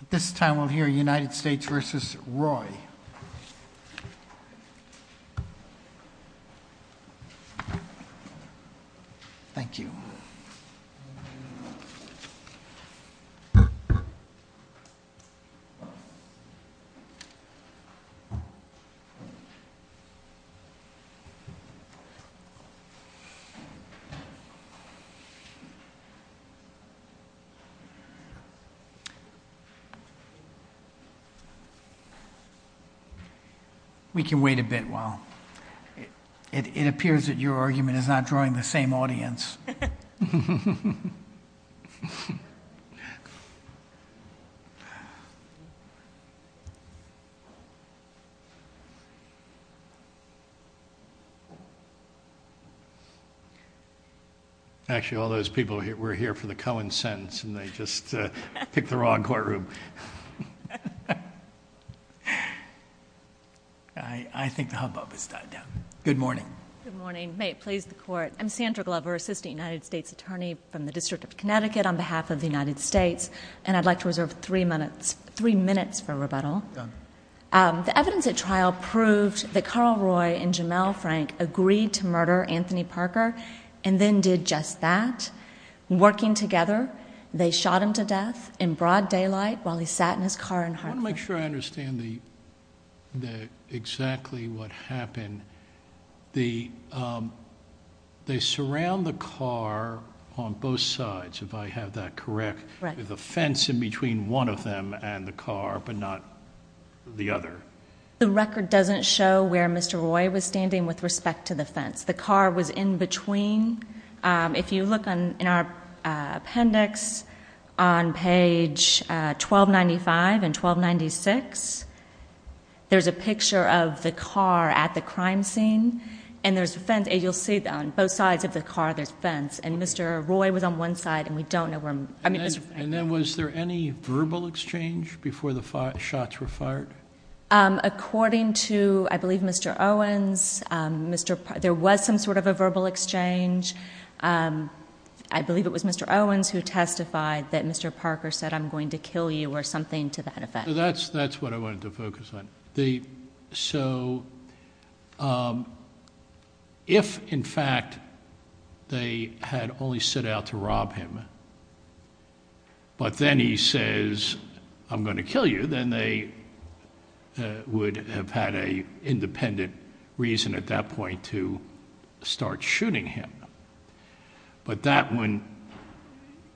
At this time, we'll hear United States v. Roy. Thank you. We can wait a bit while it appears that your argument is not drawing the same audience. Actually, all those people were here for the Cohen sentence, and they just picked the wrong courtroom. I think the hubbub has died down. Good morning. Good morning. May it please the court. I'm Sandra Glover, assistant United States attorney from the District of Connecticut on behalf of the United States. And I'd like to reserve three minutes for rebuttal. Done. The evidence at trial proved that Carl Roy and Jamel Frank agreed to murder Anthony Parker and then did just that. Working together, they shot him to death in broad daylight while he sat in his car in Hartford. I want to make sure I understand exactly what happened. They surround the car on both sides, if I have that correct, with a fence in between one of them and the car but not the other. The record doesn't show where Mr. Roy was standing with respect to the fence. The car was in between. If you look in our appendix on page 1295 and 1296, there's a picture of the car at the crime scene, and there's a fence. And you'll see on both sides of the car, there's a fence. And Mr. Roy was on one side, and we don't know where Mr. Frank was. And then was there any verbal exchange before the shots were fired? According to, I believe, Mr. Owens, there was some sort of a verbal exchange. I believe it was Mr. Owens who testified that Mr. Parker said, I'm going to kill you or something to that effect. That's what I wanted to focus on. So if, in fact, they had only set out to rob him, but then he says, I'm going to kill you, then they would have had an independent reason at that point to start shooting him. But that wouldn't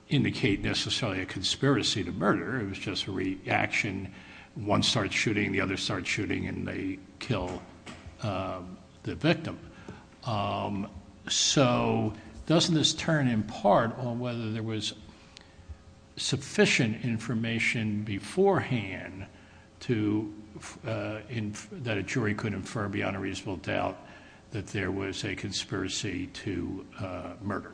indicate necessarily a conspiracy to murder. It was just a reaction. One starts shooting, the other starts shooting, and they kill the victim. So doesn't this turn in part on whether there was sufficient information beforehand that a jury could infer beyond a reasonable doubt that there was a conspiracy to murder?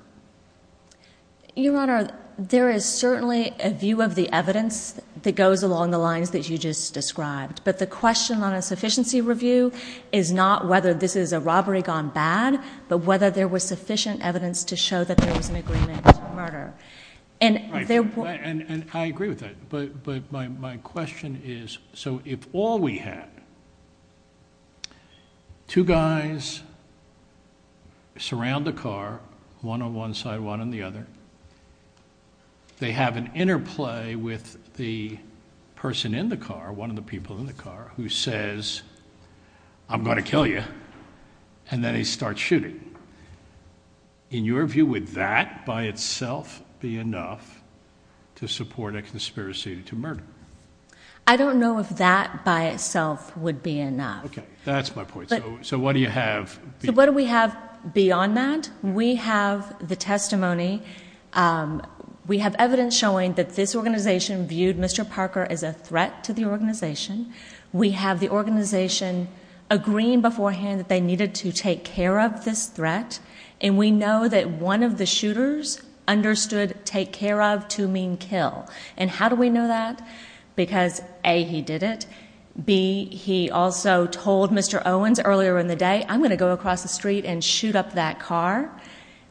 Your Honor, there is certainly a view of the evidence that goes along the lines that you just described. But the question on a sufficiency review is not whether this is a robbery gone bad, but whether there was sufficient evidence to show that there was an agreement to murder. And I agree with that. But my question is, so if all we had, two guys surround the car, one on one side, one on the other. They have an interplay with the person in the car, one of the people in the car, who says, I'm going to kill you, and then they start shooting. In your view, would that by itself be enough to support a conspiracy to murder? I don't know if that by itself would be enough. Okay, that's my point. So what do you have? So what do we have beyond that? We have the testimony. We have evidence showing that this organization viewed Mr. Parker as a threat to the organization. We have the organization agreeing beforehand that they needed to take care of this threat. And we know that one of the shooters understood take care of to mean kill. And how do we know that? Because, A, he did it. B, he also told Mr. Owens earlier in the day, I'm going to go across the street and shoot up that car,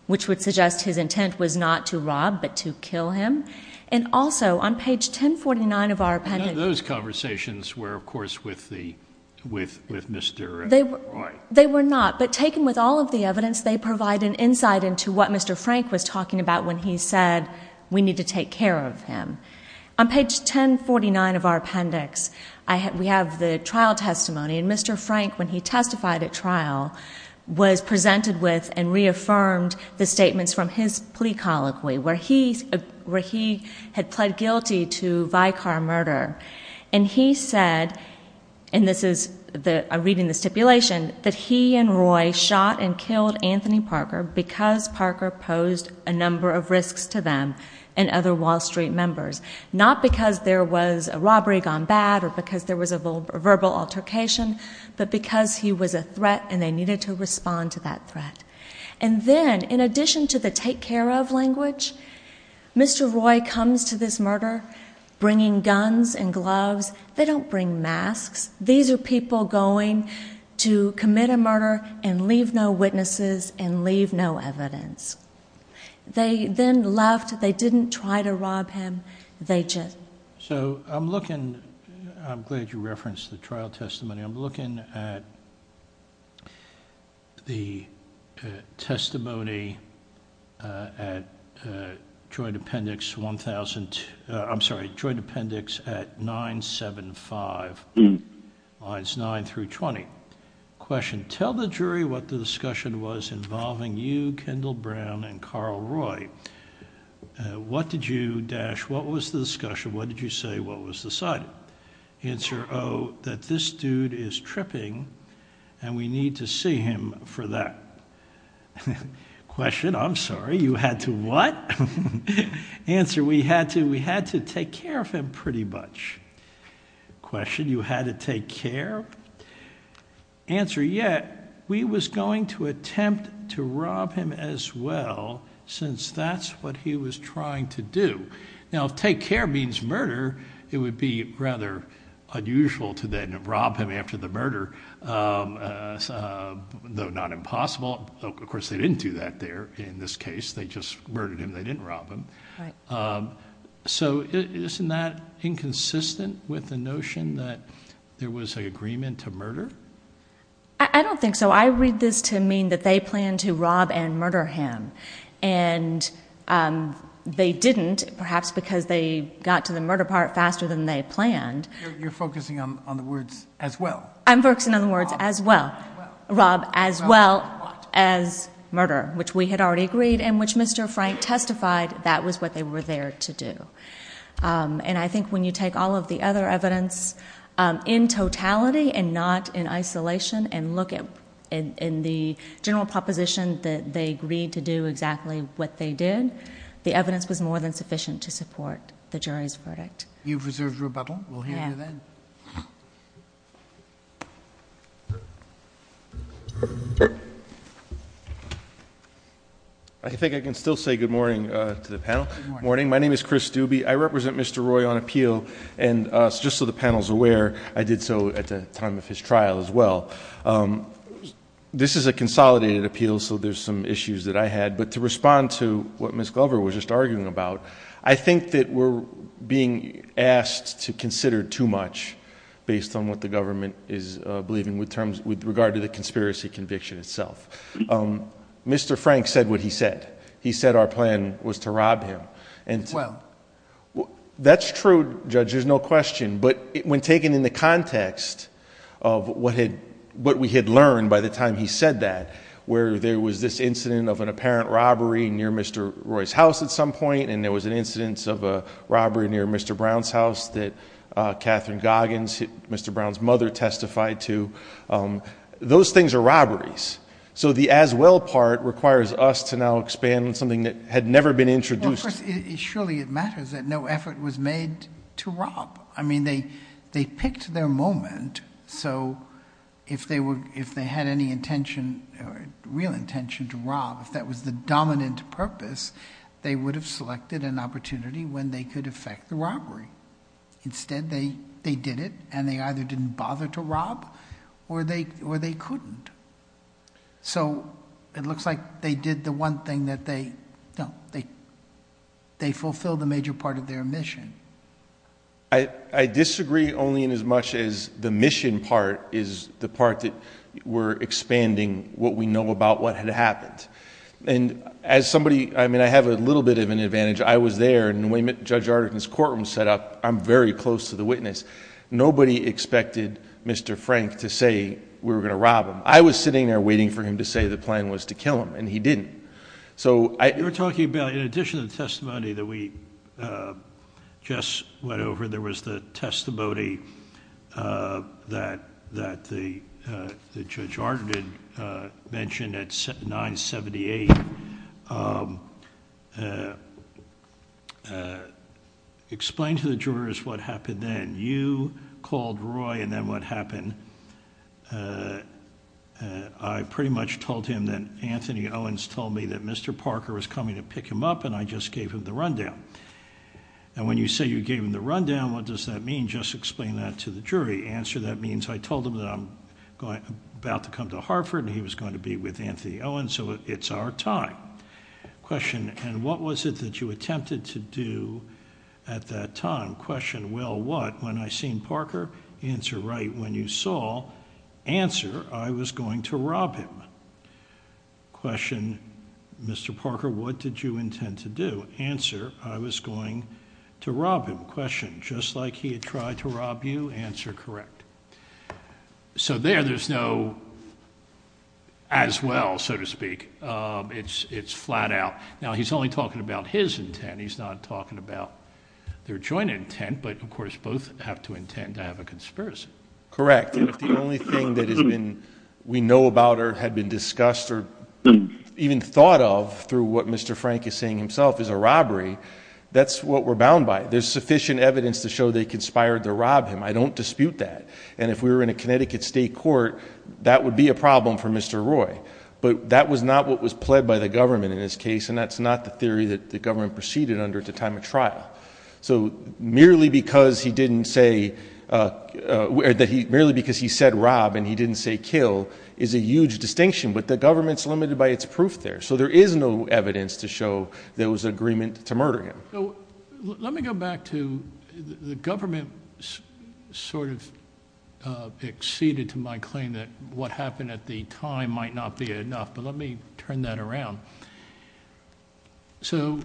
which would suggest his intent was not to rob, but to kill him. And also, on page 1049 of our appendix. None of those conversations were, of course, with Mr. Roy. They were not. But taken with all of the evidence, they provide an insight into what Mr. Frank was talking about when he said, we need to take care of him. On page 1049 of our appendix, we have the trial testimony. And Mr. Frank, when he testified at trial, was presented with and reaffirmed the statements from his plea colloquy where he had pled guilty to Vicar murder. And he said, and this is reading the stipulation, that he and Roy shot and killed Anthony Parker because Parker posed a number of risks to them and other Wall Street members. Not because there was a robbery gone bad or because there was a verbal altercation, but because he was a threat and they needed to respond to that threat. And then, in addition to the take care of language, Mr. Roy comes to this murder bringing guns and gloves. They don't bring masks. These are people going to commit a murder and leave no witnesses and leave no evidence. They then left. They didn't try to rob him. So I'm looking, I'm glad you referenced the trial testimony. I'm looking at the testimony at Joint Appendix 1000, I'm sorry, Joint Appendix at 975 lines 9 through 20. Question, tell the jury what the discussion was involving you, Kendall Brown, and Carl Roy. What did you, Dash, what was the discussion? What did you say? What was decided? Answer, oh, that this dude is tripping and we need to see him for that. Question, I'm sorry, you had to what? Answer, we had to take care of him pretty much. Question, you had to take care? Answer, yeah, we was going to attempt to rob him as well since that's what he was trying to do. Now, if take care means murder, it would be rather unusual to then rob him after the murder, though not impossible. Of course, they didn't do that there in this case. They just murdered him. They didn't rob him. So isn't that inconsistent with the notion that there was an agreement to murder? I don't think so. I read this to mean that they planned to rob and murder him, and they didn't, perhaps because they got to the murder part faster than they planned. You're focusing on the words as well. I'm focusing on the words as well. Rob as well as murder, which we had already agreed and which Mr. Frank testified that was what they were there to do. And I think when you take all of the other evidence in totality and not in isolation and look in the general proposition that they agreed to do exactly what they did, the evidence was more than sufficient to support the jury's verdict. You've reserved rebuttal. We'll hear you then. I think I can still say good morning to the panel. Good morning. My name is Chris Doobie. I represent Mr. Roy on appeal, and just so the panel is aware, I did so at the time of his trial as well. This is a consolidated appeal, so there's some issues that I had, but to respond to what Ms. Glover was just arguing about, I think that we're being asked to consider too much based on what the government is believing with regard to the conspiracy conviction itself. Mr. Frank said what he said. He said our plan was to rob him. That's true, Judge. There's no question. But when taken in the context of what we had learned by the time he said that, where there was this incident of an apparent robbery near Mr. Roy's house at some point, and there was an incident of a robbery near Mr. Brown's house that Catherine Goggins, Mr. Brown's mother, testified to, those things are robberies. So the as well part requires us to now expand on something that had never been introduced. Surely it matters that no effort was made to rob. I mean, they picked their moment, so if they had any intention or real intention to rob, if that was the dominant purpose, they would have selected an opportunity when they could effect the robbery. Instead, they did it, and they either didn't bother to rob or they couldn't. So it looks like they did the one thing that they... no, they fulfilled a major part of their mission. I disagree only in as much as the mission part is the part that we're expanding what we know about what had happened. And as somebody... I mean, I have a little bit of an advantage. I was there, and when we met Judge Arderton's courtroom setup, I'm very close to the witness. Nobody expected Mr. Frank to say we were going to rob him. I was sitting there waiting for him to say the plan was to kill him, and he didn't. So I... You're talking about in addition to the testimony that we just went over, there was the testimony that Judge Arderton mentioned at 978. Explain to the jurors what happened then. You called Roy, and then what happened? I pretty much told him that Anthony Owens told me that Mr. Parker was coming to pick him up, and I just gave him the rundown. And when you say you gave him the rundown, what does that mean? Just explain that to the jury. Answer, that means I told him that I'm about to come to Hartford, and he was going to be with Anthony Owens, so it's our time. Question, and what was it that you attempted to do at that time? Question, well, what? When I seen Parker? Answer, right when you saw. Answer, I was going to rob him. Question, Mr. Parker, what did you intend to do? Answer, I was going to rob him. Question, just like he had tried to rob you? Answer, correct. So there, there's no as well, so to speak. It's flat out. Now, he's only talking about his intent. And he's not talking about their joint intent, but, of course, both have to intend to have a conspiracy. Correct. If the only thing that has been, we know about or had been discussed or even thought of through what Mr. Frank is saying himself is a robbery, that's what we're bound by. There's sufficient evidence to show they conspired to rob him. I don't dispute that. And if we were in a Connecticut state court, that would be a problem for Mr. Roy. But that was not what was pled by the government in this case, and that's not the theory that the government proceeded under at the time of trial. So merely because he didn't say, merely because he said rob and he didn't say kill is a huge distinction. But the government's limited by its proof there. So there is no evidence to show there was agreement to murder him. Let me go back to the government sort of acceded to my claim that what happened at the time might not be enough. But let me turn that around. So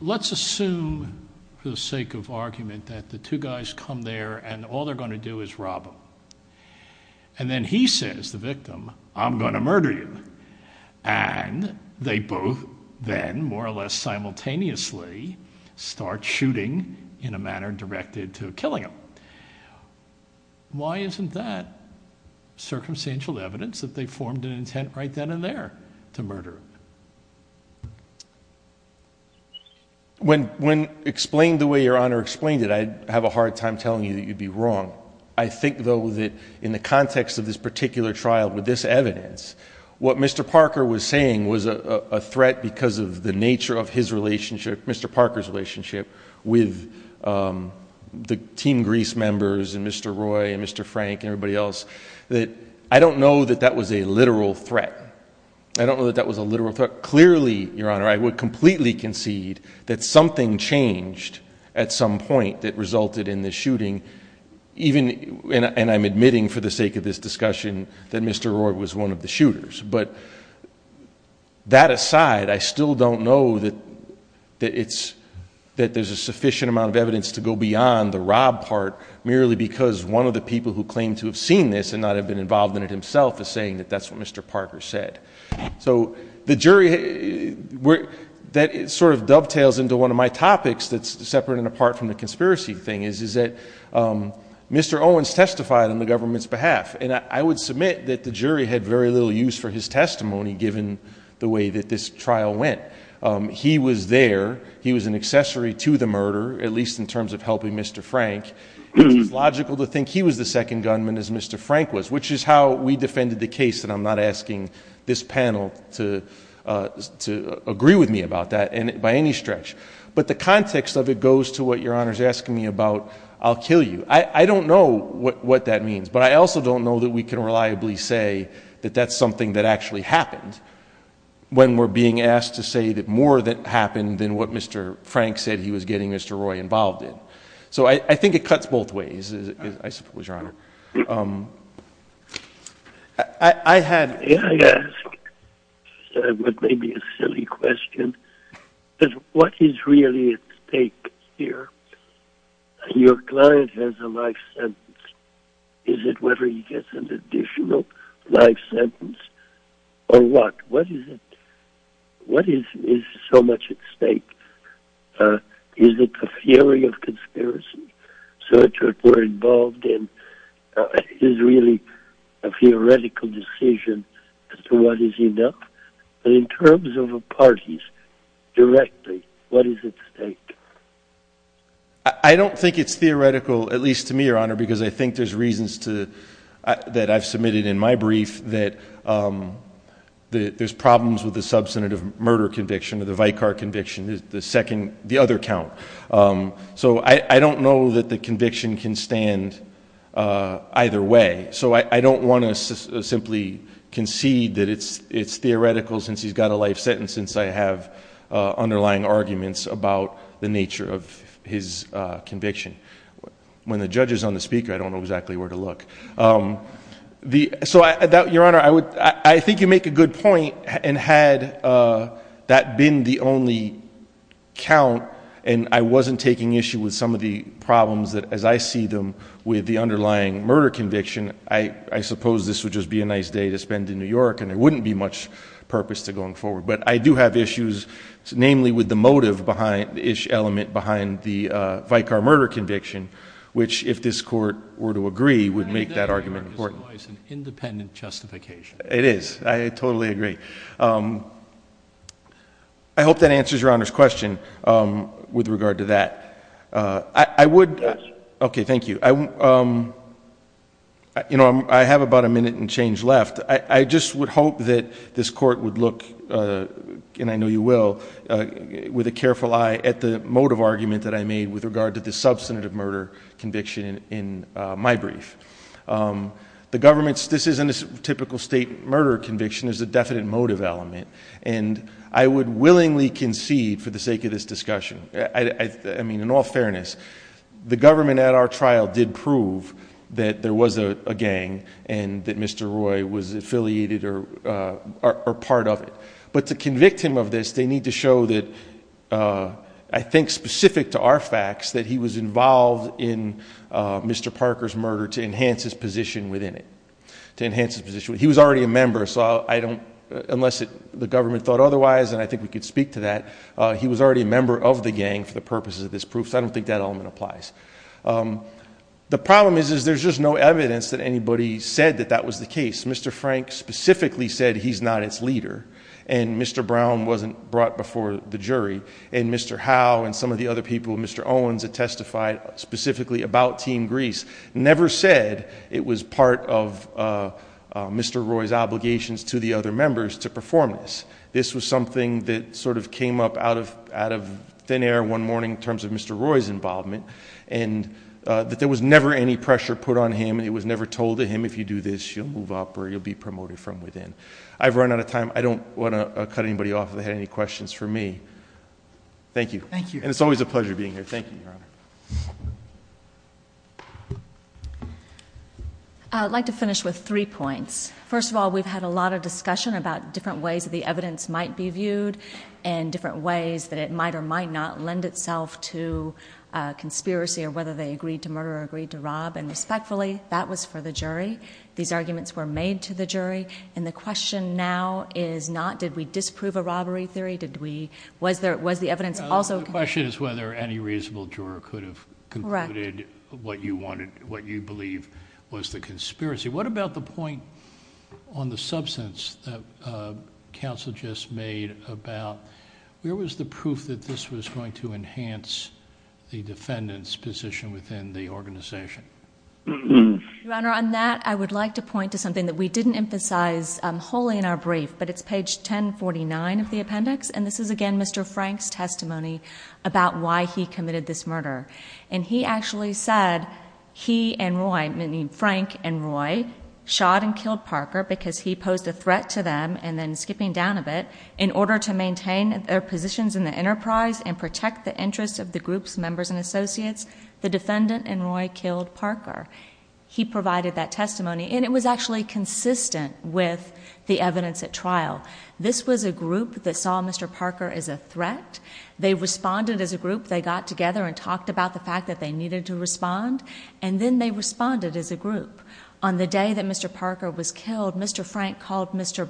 let's assume for the sake of argument that the two guys come there and all they're going to do is rob him. And then he says, the victim, I'm going to murder you. And they both then more or less simultaneously start shooting in a manner directed to killing him. Why isn't that circumstantial evidence that they formed an intent right then and there to murder him? When explained the way Your Honor explained it, I have a hard time telling you that you'd be wrong. I think though that in the context of this particular trial with this evidence, what Mr. Parker was saying was a threat because of the nature of his relationship, Mr. Parker's relationship with the Team Greece members and Mr. Roy and Mr. Frank and everybody else. I don't know that that was a literal threat. I don't know that that was a literal threat. But clearly, Your Honor, I would completely concede that something changed at some point that resulted in this shooting. And I'm admitting for the sake of this discussion that Mr. Roy was one of the shooters. But that aside, I still don't know that there's a sufficient amount of evidence to go beyond the rob part, merely because one of the people who claimed to have seen this and not have been involved in it himself is saying that that's what Mr. Parker said. So the jury, that sort of dovetails into one of my topics that's separate and apart from the conspiracy thing, is that Mr. Owens testified on the government's behalf. And I would submit that the jury had very little use for his testimony given the way that this trial went. He was there. He was an accessory to the murder, at least in terms of helping Mr. Frank. It was logical to think he was the second gunman as Mr. Frank was, which is how we defended the case, and I'm not asking this panel to agree with me about that by any stretch. But the context of it goes to what Your Honor is asking me about, I'll kill you. I don't know what that means. But I also don't know that we can reliably say that that's something that actually happened when we're being asked to say that more happened than what Mr. Frank said he was getting Mr. Roy involved in. So I think it cuts both ways, I suppose, Your Honor. I had asked what may be a silly question, is what is really at stake here? Your client has a life sentence. Is it whether he gets an additional life sentence or what? What is it? What is so much at stake? Is it the theory of conspiracy? So it's what we're involved in. It is really a theoretical decision as to what is enough. But in terms of parties directly, what is at stake? I don't think it's theoretical, at least to me, Your Honor, because I think there's reasons that I've submitted in my brief that there's problems with the substantive murder conviction or the Vicar conviction, the other count. So I don't know that the conviction can stand either way. So I don't want to simply concede that it's theoretical since he's got a life sentence since I have underlying arguments about the nature of his conviction. When the judge is on the speaker, I don't know exactly where to look. So, Your Honor, I think you make a good point, and had that been the only count and I wasn't taking issue with some of the problems as I see them with the underlying murder conviction, I suppose this would just be a nice day to spend in New York and there wouldn't be much purpose to going forward. But I do have issues, namely with the motive-ish element behind the Vicar murder conviction, which, if this Court were to agree, would make that argument important. It's an independent justification. It is. I totally agree. I hope that answers Your Honor's question with regard to that. I would— Yes. Okay, thank you. You know, I have about a minute and change left. I just would hope that this Court would look, and I know you will, with a careful eye at the motive argument that I made with regard to the substantive murder conviction in my brief. The government's—this isn't a typical state murder conviction. There's a definite motive element. And I would willingly concede, for the sake of this discussion, I mean, in all fairness, the government at our trial did prove that there was a gang and that Mr. Roy was affiliated or part of it. But to convict him of this, they need to show that, I think specific to our facts, that he was involved in Mr. Parker's murder to enhance his position within it, to enhance his position. He was already a member, so I don't—unless the government thought otherwise, and I think we could speak to that, he was already a member of the gang for the purposes of this proof. So I don't think that element applies. The problem is there's just no evidence that anybody said that that was the case. Mr. Frank specifically said he's not its leader, and Mr. Brown wasn't brought before the jury, and Mr. Howe and some of the other people, Mr. Owens had testified specifically about Team Grease, never said it was part of Mr. Roy's obligations to the other members to perform this. This was something that sort of came up out of thin air one morning in terms of Mr. Roy's involvement, and that there was never any pressure put on him. It was never told to him, if you do this, you'll move up or you'll be promoted from within. I've run out of time. I don't want to cut anybody off if they had any questions for me. Thank you. Thank you. And it's always a pleasure being here. Thank you, Your Honor. I'd like to finish with three points. First of all, we've had a lot of discussion about different ways that the evidence might be viewed and different ways that it might or might not lend itself to conspiracy or whether they agreed to murder or agreed to rob, and respectfully, that was for the jury. These arguments were made to the jury, and the question now is not did we disprove a robbery theory, did we, was the evidence also. The question is whether any reasonable juror could have concluded what you wanted, what you believe was the conspiracy. What about the point on the substance that counsel just made about where was the proof that this was going to enhance the defendant's position within the organization? Your Honor, on that I would like to point to something that we didn't emphasize wholly in our brief, but it's page 1049 of the appendix, and this is, again, Mr. Frank's testimony about why he committed this murder. And he actually said he and Roy, meaning Frank and Roy, shot and killed Parker because he posed a threat to them, and then skipping down a bit, in order to maintain their positions in the enterprise and protect the interests of the groups, members, and associates, the defendant and Roy killed Parker. He provided that testimony, and it was actually consistent with the evidence at trial. This was a group that saw Mr. Parker as a threat. They responded as a group. They got together and talked about the fact that they needed to respond, and then they responded as a group. On the day that Mr. Parker was killed, Mr. Frank called Mr.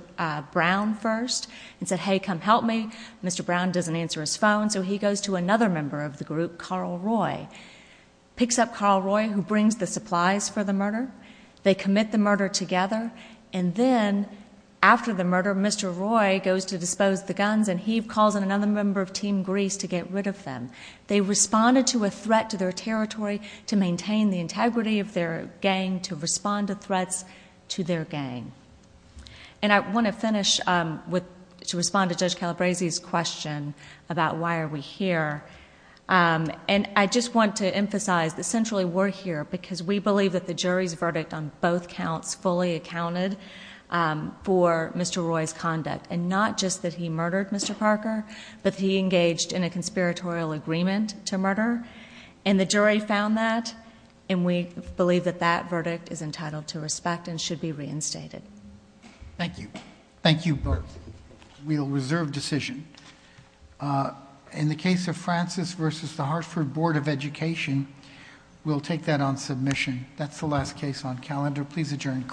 Brown first and said, hey, come help me. Mr. Brown doesn't answer his phone, so he goes to another member of the group, Carl Roy, picks up Carl Roy, who brings the supplies for the murder. They commit the murder together, and then after the murder, Mr. Roy goes to dispose the guns, and he calls in another member of Team Grease to get rid of them. They responded to a threat to their territory to maintain the integrity of their gang, to respond to threats to their gang. I want to finish to respond to Judge Calabresi's question about why are we here. I just want to emphasize that essentially we're here because we believe that the jury's verdict on both counts fully accounted for Mr. Roy's conduct, and not just that he murdered Mr. Parker, but he engaged in a conspiratorial agreement to murder, and the jury found that, and we believe that that verdict is entitled to respect and should be reinstated. Thank you. Thank you both. We'll reserve decision. In the case of Francis v. The Hartford Board of Education, we'll take that on submission. That's the last case on calendar. Please adjourn court.